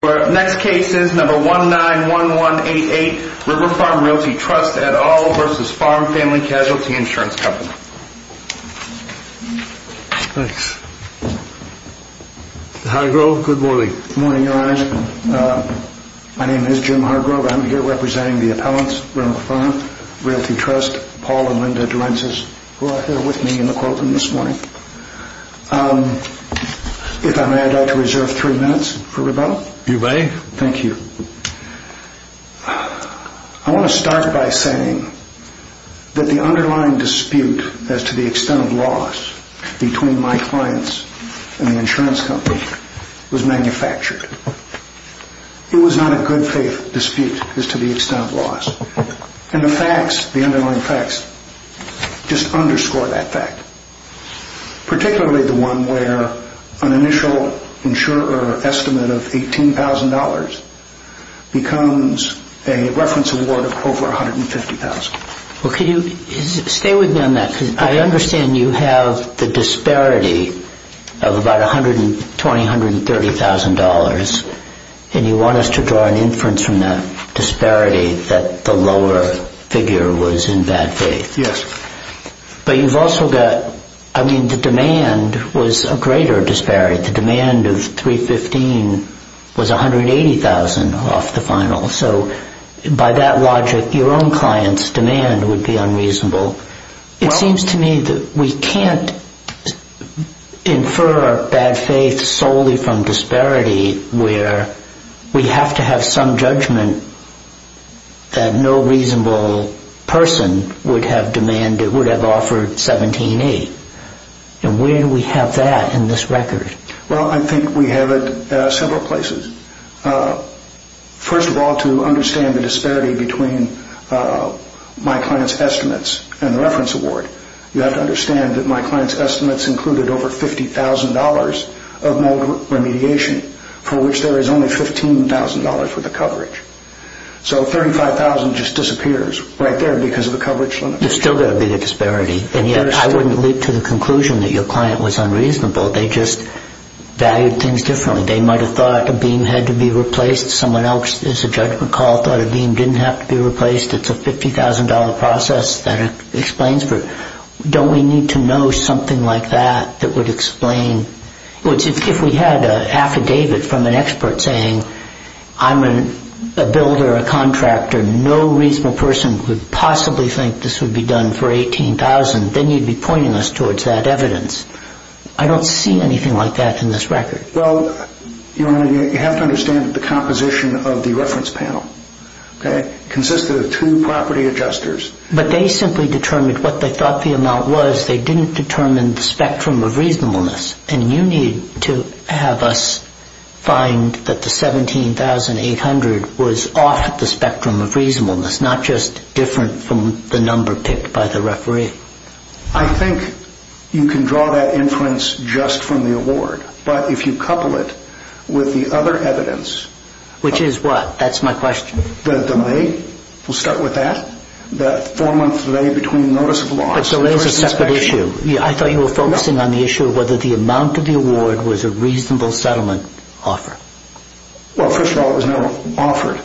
Thanks. Jim Hargrove, good morning. My name is Jim Hargrove. I'm here representing the appellants, River Farm Realty Trust, Paul and Linda Dorences, who are here with me in my office. I want to start by saying that the underlying dispute as to the extent of loss between my clients and the insurance company was manufactured. It was not a good faith dispute as to the extent of loss. And the facts, the underlying facts, just underscore that fact. Particularly the one where an initial estimate of $18,000 becomes a reference award of over $150,000. Stay with me on that because I understand you have the disparity of about $120,000 to $130,000 and you want us to draw an inference from that disparity that the lower figure was in bad faith. Yes. But you've also got, I mean the demand was a greater disparity. The demand of $315,000 was $180,000 off the final. So by that logic your own client's demand would be unreasonable. It seems to me that we can't infer bad faith solely from disparity where we have to have some judgment that no reasonable person would have demanded, would have offered $17,800. And where do we have that in this record? Well I think we have it at several places. First of all to understand the disparity between my client's estimates and the reference award. You have to understand that my client's estimates included over $50,000 of mold remediation for which there is only $15,000 for the coverage. So $35,000 just disappears right there because of the coverage. There's still got to be the disparity and yet I wouldn't lead to the conclusion that your client was unreasonable. They just valued things differently. They might have thought a beam had to be replaced. Someone else is a judgment call, thought a beam didn't have to be replaced. It's a $50,000 process that explains. Don't we need to know something like that that would explain? If we had an affidavit from an expert saying I'm a builder, a contractor, no reasonable person would possibly think this would be done for $18,000 then you'd be pointing us towards that evidence. I don't see anything like that in this record. Well you have to understand the composition of the reference panel. It consisted of two property adjusters. But they simply determined what they thought the amount was. They didn't determine the spectrum of reasonableness. And you need to have us find that the $17,800 was off the spectrum of reasonableness, not just different from the number picked by the referee. I think you can draw that inference just from the award. But if you couple it with the other evidence Which is what? That's my question. The delay. We'll start with that. The four month delay between notice of loss. But delay is a separate issue. I thought you were focusing on the issue of whether the amount of the award was a reasonable settlement offer. Well first of all it was not offered.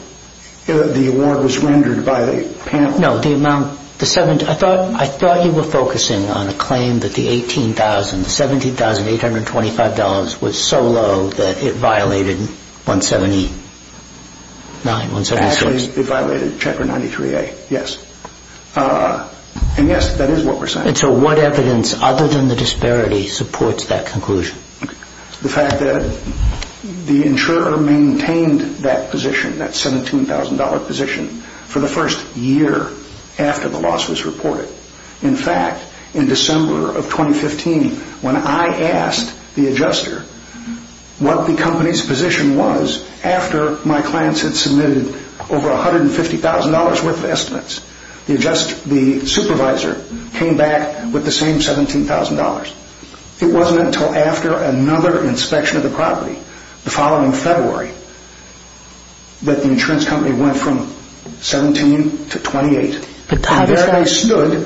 The award was rendered by the panel. No, the amount. I thought you were focusing on a claim that the $18,000, $17,825 was so low that it violated 179, 176. Actually it violated checker 93A, yes. And yes, that is what we're saying. And so what evidence, other than the disparity, supports that conclusion? The fact that the insurer maintained that position, that $17,000 position, for the first year after the loss was reported. In fact, in December of 2015, when I asked the adjuster what the company's position was after my clients had submitted over $150,000 worth of estimates, the supervisor came back with the same $17,000. It wasn't until after another inspection of that the insurance company went from $17,000 to $28,000.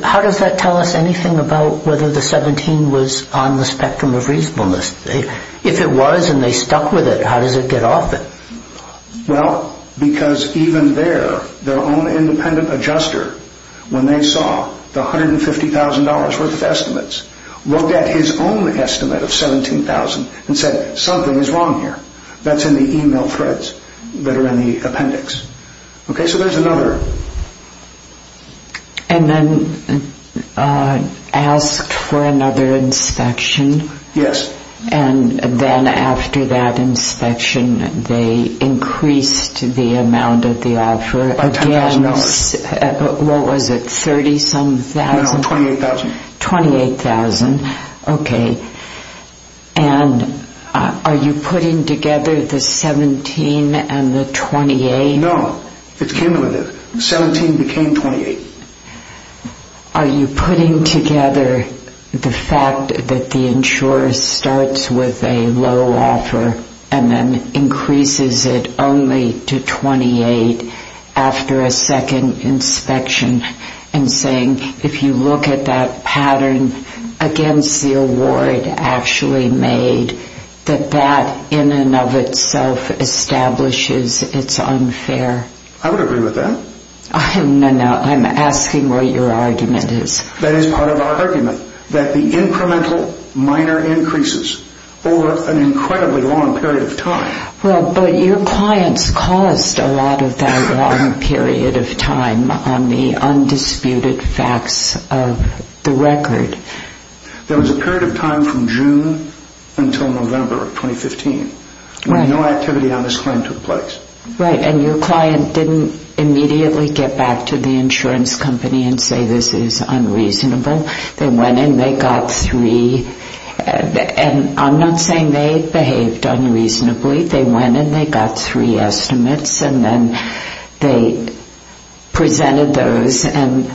How does that tell us anything about whether the $17,000 was on the spectrum of reasonableness? If it was and they stuck with it, how does it get off it? Well, because even there, their own independent adjuster, when they saw the $150,000 worth of estimates, looked at his own estimate of $17,000 and said, something is wrong here. That's in the email threads that are in the appendix. Okay, so there's another. And then asked for another inspection? Yes. And then after that inspection, they increased the amount of the offer again. By $10,000. What was it, $30,000? No, no, $28,000. $28,000, okay. And are you putting together the $17,000 and the $28,000? No, it came with it. $17,000 became $28,000. Are you putting together the fact that the insurer starts with a low offer and then increases it only to $28,000 after a second inspection and saying, if you look at that pattern against the award actually made, that that in and of itself establishes it's unfair? I would agree with that. No, no, I'm asking what your argument is. That is part of our argument, that the incremental minor increases over an incredibly long period of time. Well, but your clients caused a lot of that long period of time on the undisputed facts of the record. There was a period of time from June until November of 2015 when no activity on this claim took place. Right, and your client didn't immediately get back to the insurance company and say this is unreasonable. They went in, they got three, and I'm not saying they behaved unreasonably. They went in, they got three estimates and then they presented those and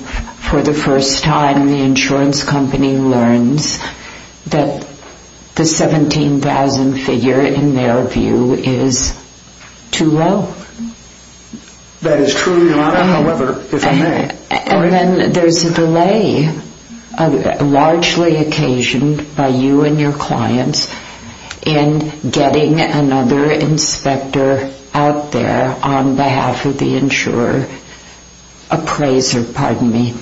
for the first time the insurance company learns that the $17,000 figure in their view is too low. That is true, Your Honor, however, if I may. And then there's a delay, largely occasioned by you and your clients in getting another inspector out there on behalf of the insurer appraiser, pardon me,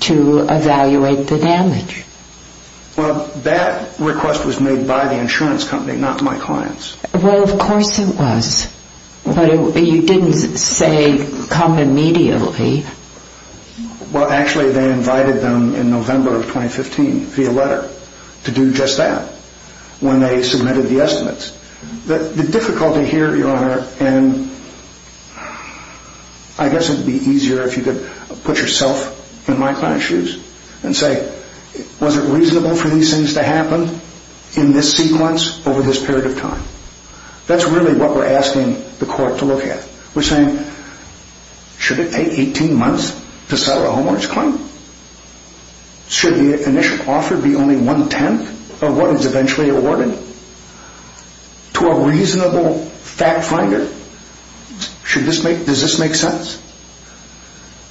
to evaluate the damage. Well, that request was made by the insurance company, not my clients. Well, of course it was, but you didn't say come immediately. Well, actually they invited them in November of 2015 via letter to do just that when they submitted the estimates. The difficulty here, Your Honor, and I guess it would be easier if you could put yourself in my client's shoes and say was it reasonable for these things to happen in this sequence over this period of time? That's really what we're asking the court to look at. We're saying should it take 18 months to settle a homeowner's claim? Should the initial offer be only one-tenth of what is eventually awarded? To a reasonable fact finder, does this make sense?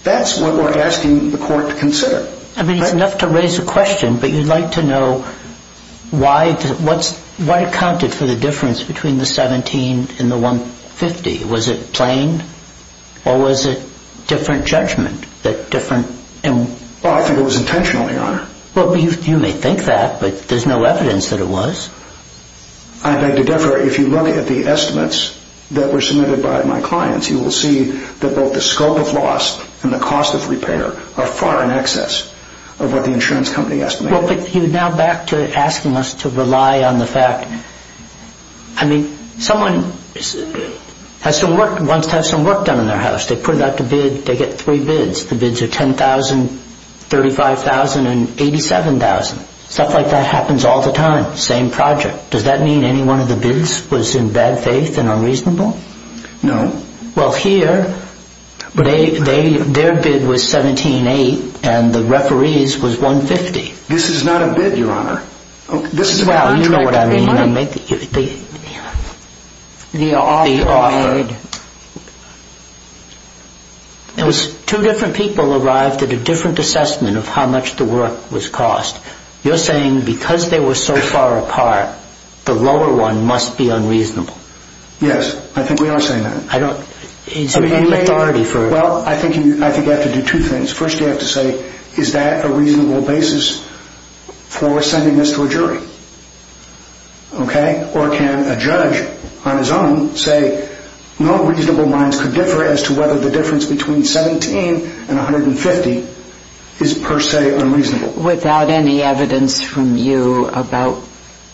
That's what we're asking the court to consider. I mean, it's enough to raise a question, but you'd like to know why it counted for the difference between the 17 and the 150. Was it plain or was it different judgment? Well, I think it was intentional, Your Honor. Well, you may think that, but there's no evidence that it was. I beg to differ. If you look at the estimates that were submitted by my clients, you will see that both the scope of loss and the cost of repair are far in excess of what the insurance company estimated. Well, but you're now back to asking us to rely on the fact. I mean, someone wants to have some work done on their house. They put it out to bid. They get three bids. The bids are $10,000, $35,000, and $87,000. Stuff like that happens all the time. Same project. Does that mean any one of the bids was in bad faith and unreasonable? No. Well, here, their bid was $17,800 and the referee's was $150,000. This is not a bid, Your Honor. You know what I mean. The offer. Two different people arrived at a different assessment of how much the work was cost. You're saying because they were so far apart, the lower one must be unreasonable. Yes. I think we are saying that. Is there any authority for it? Well, I think you have to do two things. First, you have to say, is that a reasonable basis for sending this to a jury? Okay? Or can a judge on his own say no reasonable minds could differ as to whether the difference between $17,000 and $150,000 is per se unreasonable? Without any evidence from you about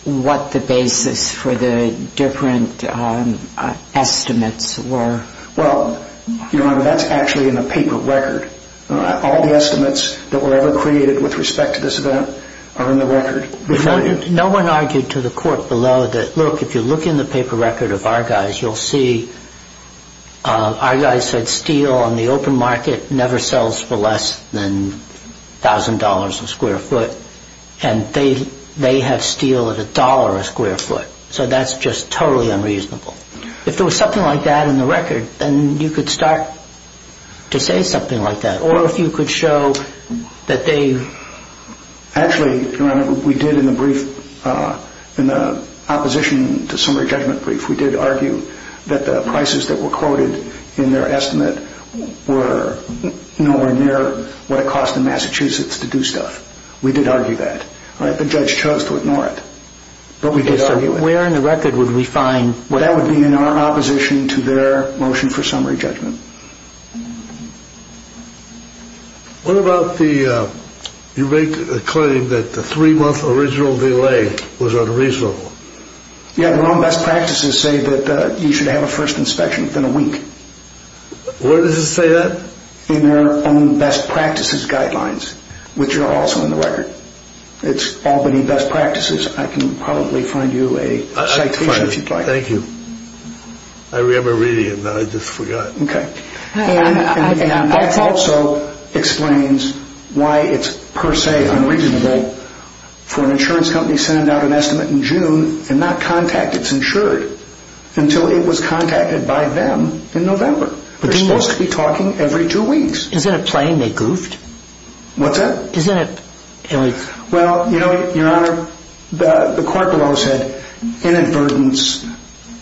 what the basis for the different estimates were? Well, Your Honor, that's actually in the paper record. All the estimates that were ever created with respect to this event are in the record. No one argued to the court below that, look, if you look in the paper record of our guys, you'll see our guys said steel on the open market never sells for less than $1,000 a square foot. And they had steel at $1 a square foot. So that's just totally unreasonable. If there was something like that in the record, then you could start to say something like that. Or if you could show that they... Actually, Your Honor, we did in the brief, in the opposition to summary judgment brief, we did argue that the prices that were quoted in their estimate were nowhere near what it costs in Massachusetts to do stuff. We did argue that. The judge chose to ignore it. But we did argue it. So where in the record would we find... That would be in our opposition to their motion for summary judgment. What about the... you make the claim that the three-month original delay was unreasonable. Yeah, their own best practices say that you should have a first inspection within a week. Where does it say that? In their own best practices guidelines, which are also in the record. It's Albany Best Practices. I can probably find you a citation if you'd like. Thank you. I remember reading it, but I just forgot. Okay. And that also explains why it's per se unreasonable for an insurance company to send out an estimate in June and not contact its insured until it was contacted by them in November. They're supposed to be talking every two weeks. Isn't it plain they goofed? What's that? Isn't it... Well, you know, Your Honor, the court below said inadvertence,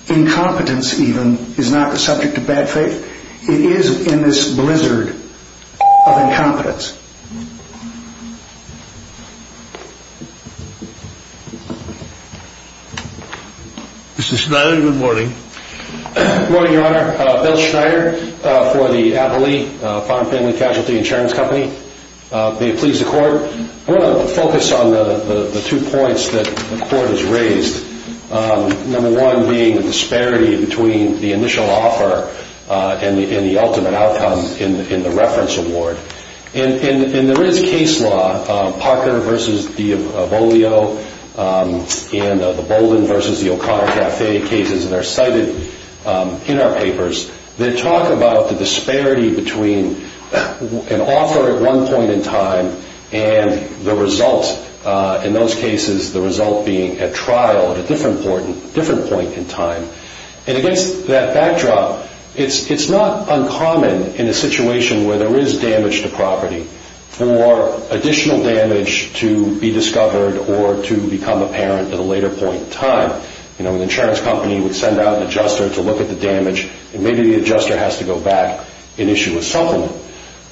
incompetence even, is not the subject of bad faith. It is in this blizzard of incompetence. Mr. Schneider, good morning. Good morning, Your Honor. Bill Schneider for the Applee Farm Family Casualty Insurance Company. May it please the Court. I want to focus on the two points that the Court has raised, number one being the disparity between the initial offer and the ultimate outcome in the reference award. And there is case law, Parker v. Diabolio and the Bolden v. the O'Connor Cafe cases that are cited in our papers that talk about the disparity between an offer at one point in time and the result, in those cases the result being at trial at a different point in time. And against that backdrop, it's not uncommon in a situation where there is damage to property for additional damage to be discovered or to become apparent at a later point in time. You know, an insurance company would send out an adjuster to look at the damage and maybe the adjuster has to go back and issue a supplement.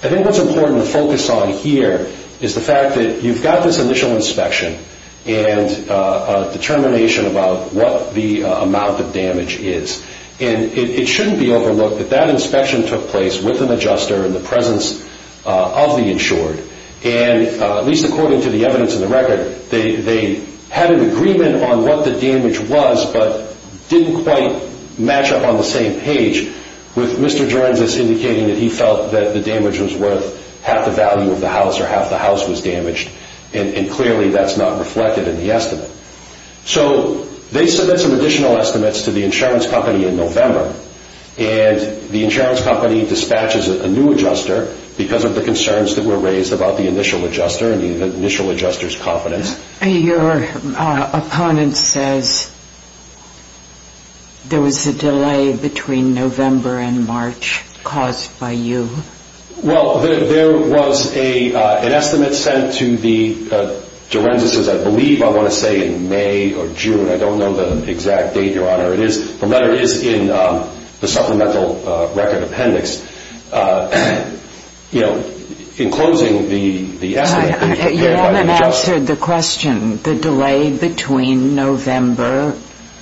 I think what's important to focus on here is the fact that you've got this initial inspection and a determination about what the amount of damage is. And it shouldn't be overlooked that that inspection took place with an adjuster in the presence of the insured. And at least according to the evidence in the record, they had an agreement on what the damage was but didn't quite match up on the same page with Mr. Jorenzis indicating that he felt that the damage was worth half the value of the house or half the house was damaged. And clearly that's not reflected in the estimate. So they submit some additional estimates to the insurance company in November. And the insurance company dispatches a new adjuster because of the concerns that were raised about the initial adjuster and the initial adjuster's competence. Your opponent says there was a delay between November and March caused by you. Well, there was an estimate sent to the Jorenzis's, I believe I want to say in May or June. I don't know the exact date, Your Honor. It is in the supplemental record appendix. You know, in closing the estimate. You haven't answered the question, the delay between November.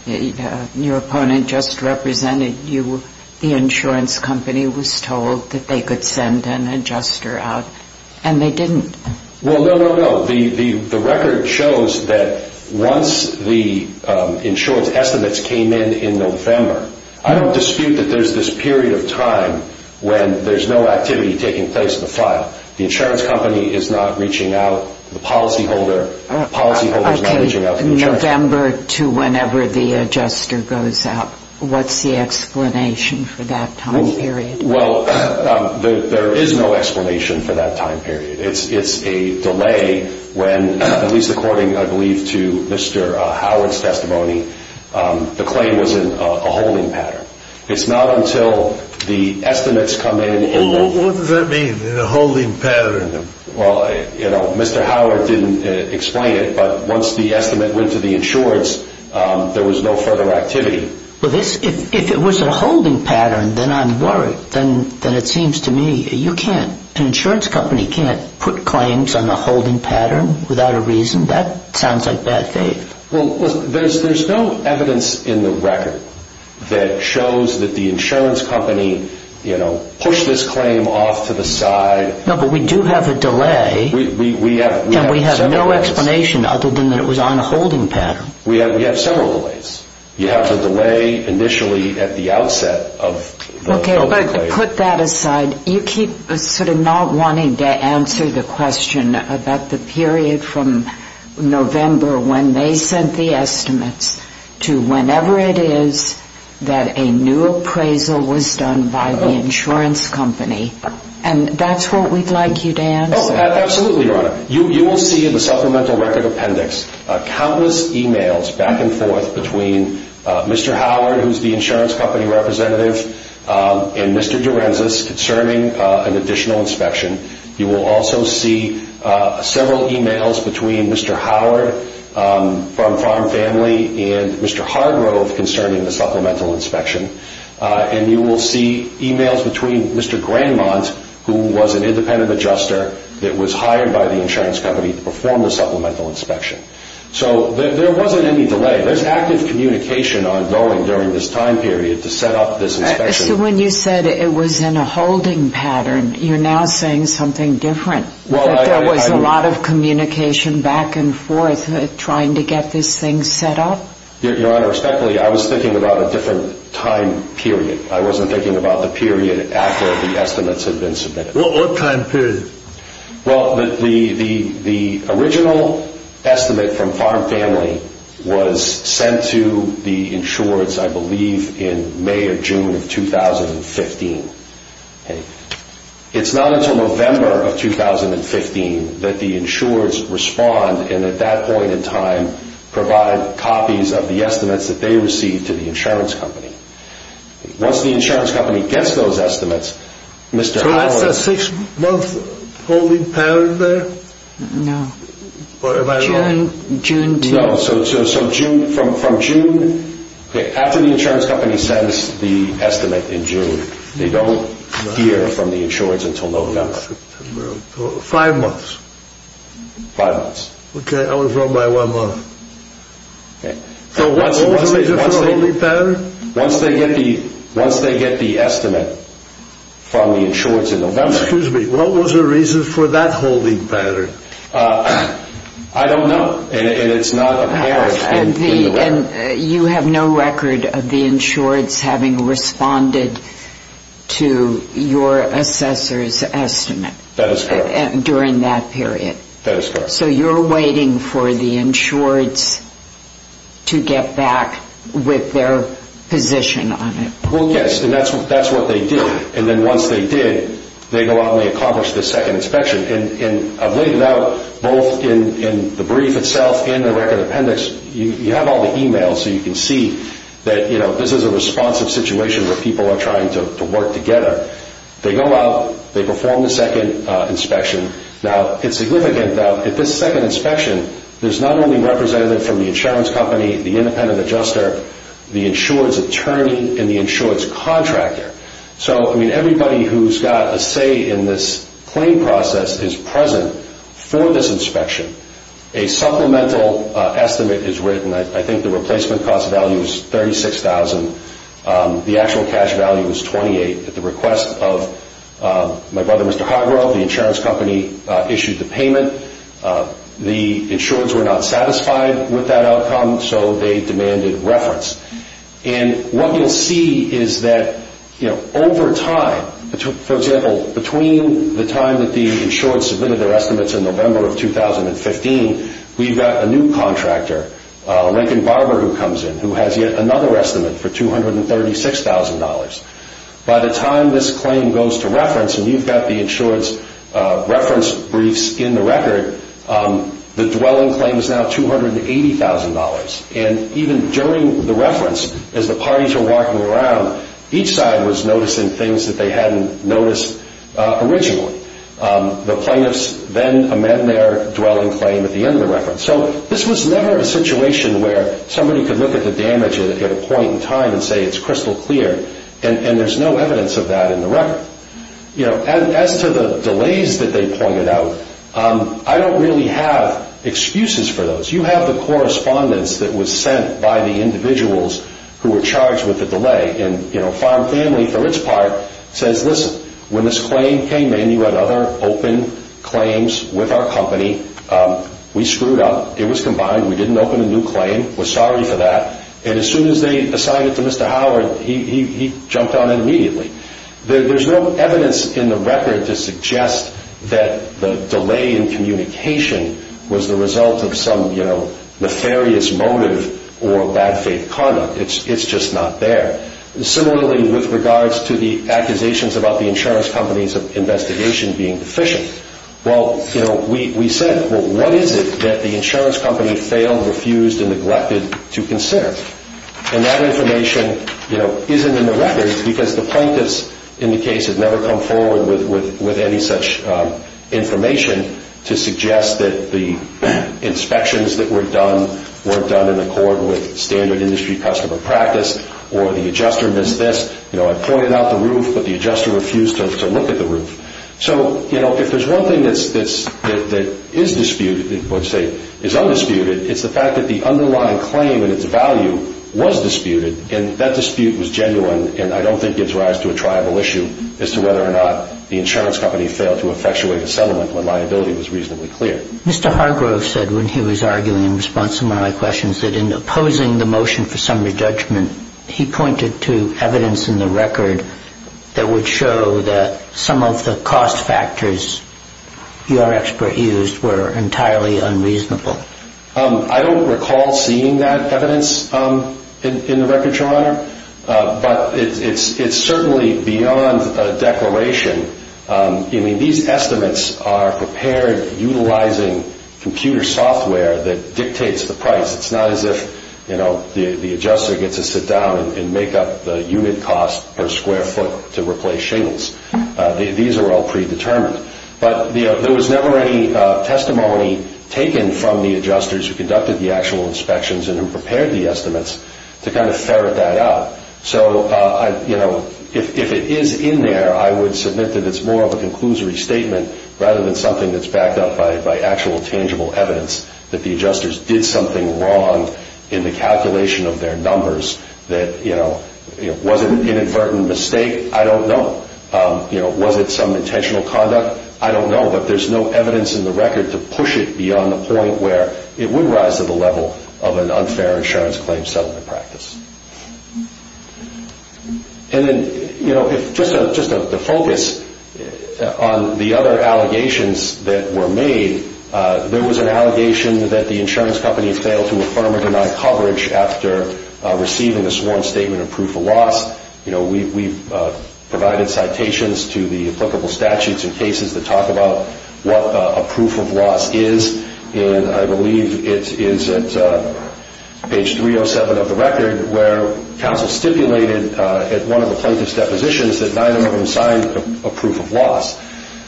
Your opponent just represented you. The insurance company was told that they could send an adjuster out and they didn't. Well, no, no, no. The record shows that once the insurance estimates came in in November, I don't dispute that there's this period of time when there's no activity taking place in the file. The insurance company is not reaching out to the policyholder. Policyholders are not reaching out to the adjuster. Okay, November to whenever the adjuster goes out. What's the explanation for that time period? Well, there is no explanation for that time period. It's a delay when, at least according, I believe, to Mr. Howard's testimony, the claim was in a holding pattern. It's not until the estimates come in. What does that mean, a holding pattern? Well, you know, Mr. Howard didn't explain it, but once the estimate went to the insurance, there was no further activity. Well, if it was a holding pattern, then I'm worried. Then it seems to me you can't, an insurance company can't put claims on a holding pattern without a reason. That sounds like bad faith. Well, there's no evidence in the record that shows that the insurance company, you know, pushed this claim off to the side. No, but we do have a delay. And we have no explanation other than that it was on a holding pattern. We have several delays. You have the delay initially at the outset of the claim. Okay, but put that aside. And you keep sort of not wanting to answer the question about the period from November when they sent the estimates to whenever it is that a new appraisal was done by the insurance company. And that's what we'd like you to answer. Oh, absolutely, Your Honor. You will see in the supplemental record appendix countless e-mails back and forth between Mr. Howard, who's the insurance company representative, and Mr. Durenzis concerning an additional inspection. You will also see several e-mails between Mr. Howard from Farm Family and Mr. Hardgrove concerning the supplemental inspection. And you will see e-mails between Mr. Grandmont, who was an independent adjuster that was hired by the insurance company to perform the supplemental inspection. So there wasn't any delay. There's active communication ongoing during this time period to set up this inspection. So when you said it was in a holding pattern, you're now saying something different, that there was a lot of communication back and forth trying to get this thing set up? Your Honor, respectfully, I was thinking about a different time period. I wasn't thinking about the period after the estimates had been submitted. What time period? Well, the original estimate from Farm Family was sent to the insurers, I believe, in May or June of 2015. It's not until November of 2015 that the insurers respond and at that point in time provide copies of the estimates that they received to the insurance company. Once the insurance company gets those estimates, Mr. Howard... So that's a six-month holding pattern there? No. Or am I wrong? June... No, so from June... After the insurance company sends the estimate in June, they don't hear from the insurers until November. Five months. Five months. Okay, I was wrong by one month. Okay. So what was the reason for the holding pattern? Once they get the estimate from the insurers in November... Excuse me, what was the reason for that holding pattern? I don't know, and it's not apparent in the record. And you have no record of the insurers having responded to your assessor's estimate... That is correct. ...during that period? That is correct. So you're waiting for the insureds to get back with their position on it? Well, yes, and that's what they do. And then once they did, they go out and they accomplish the second inspection. And I've laid it out both in the brief itself and in the record appendix. You have all the emails so you can see that this is a responsive situation where people are trying to work together. They go out, they perform the second inspection. Now, it's significant that at this second inspection, there's not only representative from the insurance company, the independent adjuster, the insured's attorney, and the insured's contractor. So, I mean, everybody who's got a say in this claim process is present for this inspection. A supplemental estimate is written. I think the replacement cost value is $36,000. The actual cash value is $28,000 at the request of my brother, Mr. Hargrove, the insurance company issued the payment. The insureds were not satisfied with that outcome, so they demanded reference. And what you'll see is that over time, for example, between the time that the insureds submitted their estimates in November of 2015, we've got a new contractor, Lincoln Barber, who comes in, who has yet another estimate for $236,000. By the time this claim goes to reference, and you've got the insured's reference briefs in the record, the dwelling claim is now $280,000. And even during the reference, as the parties were walking around, each side was noticing things that they hadn't noticed originally. The plaintiffs then amend their dwelling claim at the end of the reference. So this was never a situation where somebody could look at the damage at a point in time and say it's crystal clear, and there's no evidence of that in the record. As to the delays that they pointed out, I don't really have excuses for those. You have the correspondence that was sent by the individuals who were charged with the delay. And Farm Family, for its part, says, listen, when this claim came in, you had other open claims with our company. We screwed up. It was combined. We didn't open a new claim. We're sorry for that. And as soon as they assigned it to Mr. Howard, he jumped on it immediately. There's no evidence in the record to suggest that the delay in communication was the result of some nefarious motive or bad faith conduct. It's just not there. Similarly, with regards to the accusations about the insurance company's investigation being deficient, we said, well, what is it that the insurance company failed, refused, and neglected to consider? And that information isn't in the record because the plaintiffs in the case have never come forward with any such information to suggest that the inspections that were done weren't done in accord with standard industry customer practice or the adjuster missed this. I pointed out the roof, but the adjuster refused to look at the roof. So, you know, if there's one thing that is disputed, let's say is undisputed, it's the fact that the underlying claim and its value was disputed, and that dispute was genuine and I don't think gives rise to a triable issue as to whether or not the insurance company failed to effectuate a settlement when liability was reasonably clear. Mr. Hargrove said when he was arguing in response to one of my questions that in opposing the motion for summary judgment, he pointed to evidence in the record that would show that some of the cost factors your expert used were entirely unreasonable. I don't recall seeing that evidence in the record, Your Honor, but it's certainly beyond a declaration. I mean, these estimates are prepared utilizing computer software that dictates the price. It's not as if, you know, the adjuster gets to sit down and make up the unit cost per square foot to replace shingles. These are all predetermined. But there was never any testimony taken from the adjusters who conducted the actual inspections and who prepared the estimates to kind of ferret that out. So, you know, if it is in there, I would submit that it's more of a conclusory statement rather than something that's backed up by actual tangible evidence that the adjusters did something wrong in the calculation of their numbers that, you know, was it an inadvertent mistake? I don't know. You know, was it some intentional conduct? I don't know. But there's no evidence in the record to push it beyond the point where it would rise to the level of an unfair insurance claim settlement practice. And then, you know, just to focus on the other allegations that were made, there was an allegation that the insurance company failed to affirm or deny coverage after receiving a sworn statement of proof of loss. You know, we've provided citations to the applicable statutes and cases that talk about what a proof of loss is. And I believe it is at page 307 of the record where counsel stipulated at one of the plaintiff's depositions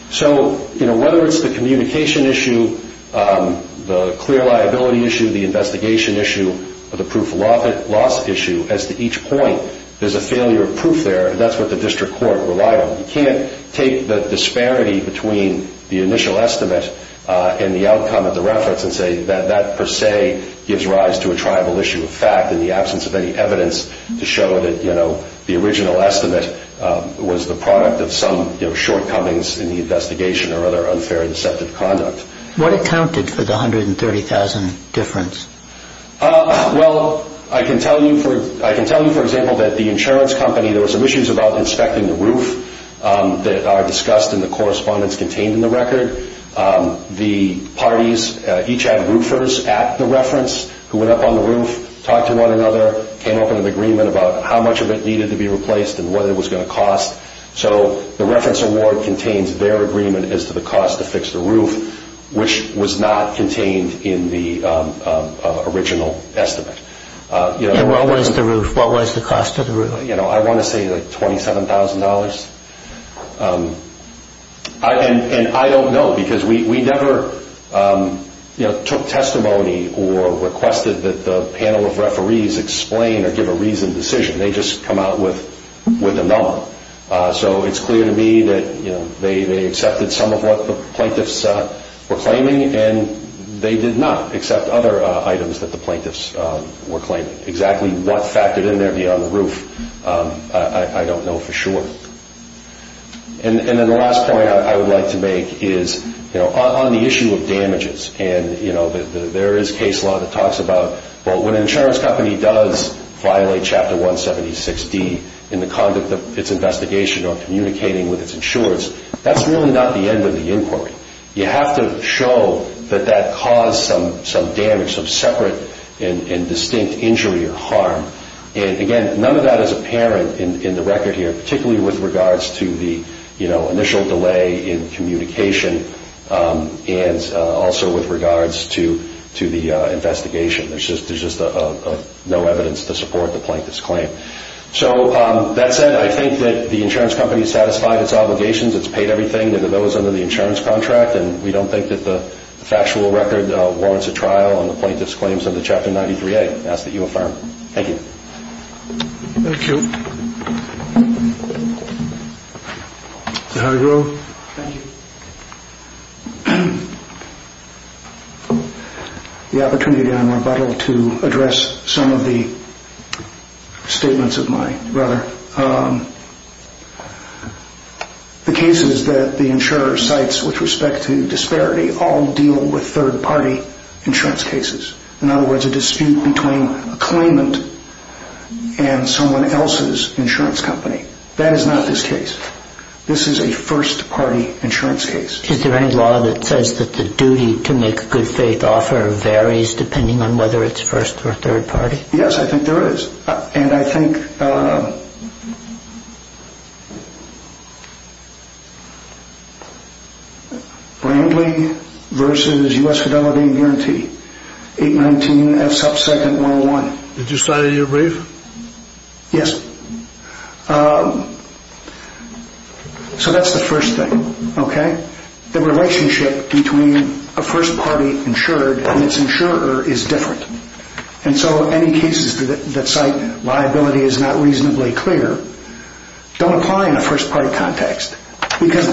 So, you know, whether it's the communication issue, the clear liability issue, the investigation issue, or the proof of loss issue, as to each point, there's a failure of proof there, and that's what the district court relied on. You can't take the disparity between the initial estimate and the outcome of the reference and say that that per se gives rise to a tribal issue of fact in the absence of any evidence to show that, you know, the original estimate was the product of some shortcomings in the investigation or other unfair and deceptive conduct. What accounted for the $130,000 difference? Well, I can tell you, for example, that the insurance company, there were some issues about inspecting the roof that are discussed in the correspondence contained in the record. The parties each had roofers at the reference who went up on the roof, talked to one another, came up with an agreement about how much of it needed to be replaced and what it was going to cost. So the reference award contains their agreement as to the cost to fix the roof, which was not contained in the original estimate. And what was the roof? What was the cost of the roof? You know, I want to say like $27,000. And I don't know because we never, you know, took testimony or requested that the panel of referees explain or give a reasoned decision. They just come out with a number. So it's clear to me that, you know, they accepted some of what the plaintiffs were claiming and they did not accept other items that the plaintiffs were claiming. Exactly what factored in there beyond the roof, I don't know for sure. And then the last point I would like to make is, you know, on the issue of damages. And, you know, there is case law that talks about, well, when an insurance company does violate Chapter 176D in the conduct of its investigation or communicating with its insurers, that's really not the end of the inquiry. You have to show that that caused some damage, some separate and distinct injury or harm. And, again, none of that is apparent in the record here, particularly with regards to the, you know, initial delay in communication and also with regards to the investigation. There's just no evidence to support the plaintiff's claim. So that said, I think that the insurance company satisfied its obligations. It's paid everything that it owes under the insurance contract. And we don't think that the factual record warrants a trial on the plaintiff's claims under Chapter 93A. I ask that you affirm. Thank you. Thank you. Mr. Hargrove. Thank you. The opportunity that I'm rebuttal to address some of the statements of mine, rather. The cases that the insurer cites with respect to disparity all deal with third-party insurance cases. In other words, a dispute between a claimant and someone else's insurance company. That is not this case. This is a first-party insurance case. Is there any law that says that the duty to make a good faith offer varies depending on whether it's first- or third-party? Yes, I think there is. And I think Brantley versus U.S. Fidelity and Guarantee, 819F subsequent 101. Did you cite it in your brief? Yes. So that's the first thing, okay? The relationship between a first-party insured and its insurer is different. And so any cases that cite liability is not reasonably clear don't apply in a first-party context. Because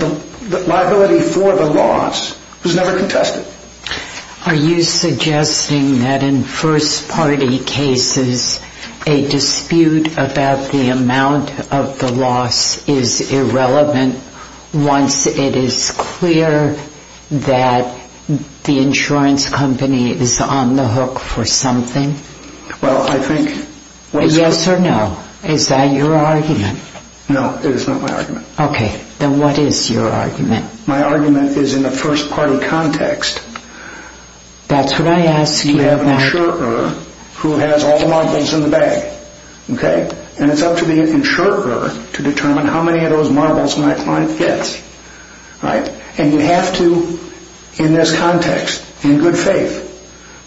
the liability for the loss was never contested. Are you suggesting that in first-party cases a dispute about the amount of the loss is irrelevant once it is clear that the insurance company is on the hook for something? Well, I think... Yes or no? Is that your argument? No, it is not my argument. Okay. Then what is your argument? My argument is in a first-party context. That's what I asked you about. You have an insurer who has all the marbles in the bag, okay? And it's up to the insurer to determine how many of those marbles my client gets, right? And you have to, in this context, in good faith,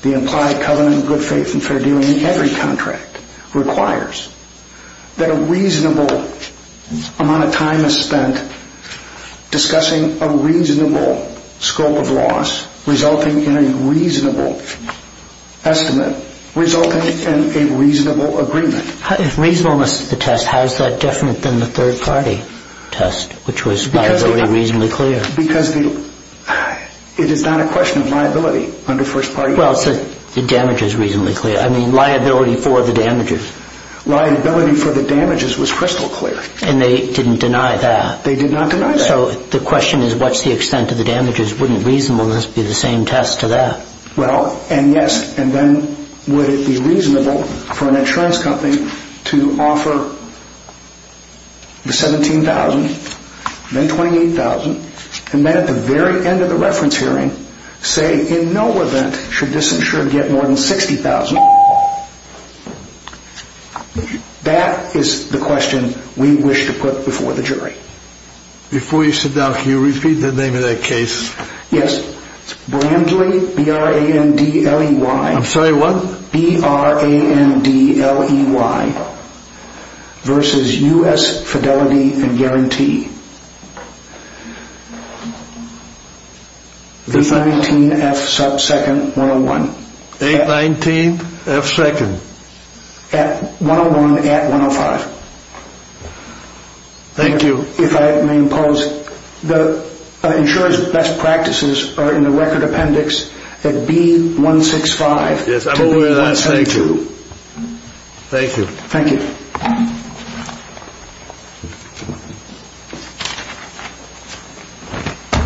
the implied covenant of good faith and fair dealing in every contract requires that a reasonable amount of time is spent discussing a reasonable scope of loss resulting in a reasonable estimate, resulting in a reasonable agreement. If reasonableness is the test, how is that different than the third-party test, which was liability reasonably clear? Because it is not a question of liability under first-party context. Well, the damage is reasonably clear. I mean, liability for the damages. Liability for the damages was crystal clear. And they didn't deny that? They did not deny that. So the question is what's the extent of the damages? Wouldn't reasonableness be the same test to that? Well, and yes, and then would it be reasonable for an insurance company to offer the $17,000, then $28,000, and then at the very end of the reference hearing, say in no event should this insurer get more than $60,000? That is the question we wish to put before the jury. Before you sit down, can you repeat the name of that case? Yes. Brandley, B-R-A-N-D-L-E-Y. I'm sorry, what? B-R-A-N-D-L-E-Y versus U.S. Fidelity and Guarantee. V-19F sub second 101. A-19F second. 101 at 105. Thank you. If I may impose, the insurer's best practices are in the record appendix at B-165. Yes, I'm aware of that. Thank you. Thank you. Thank you.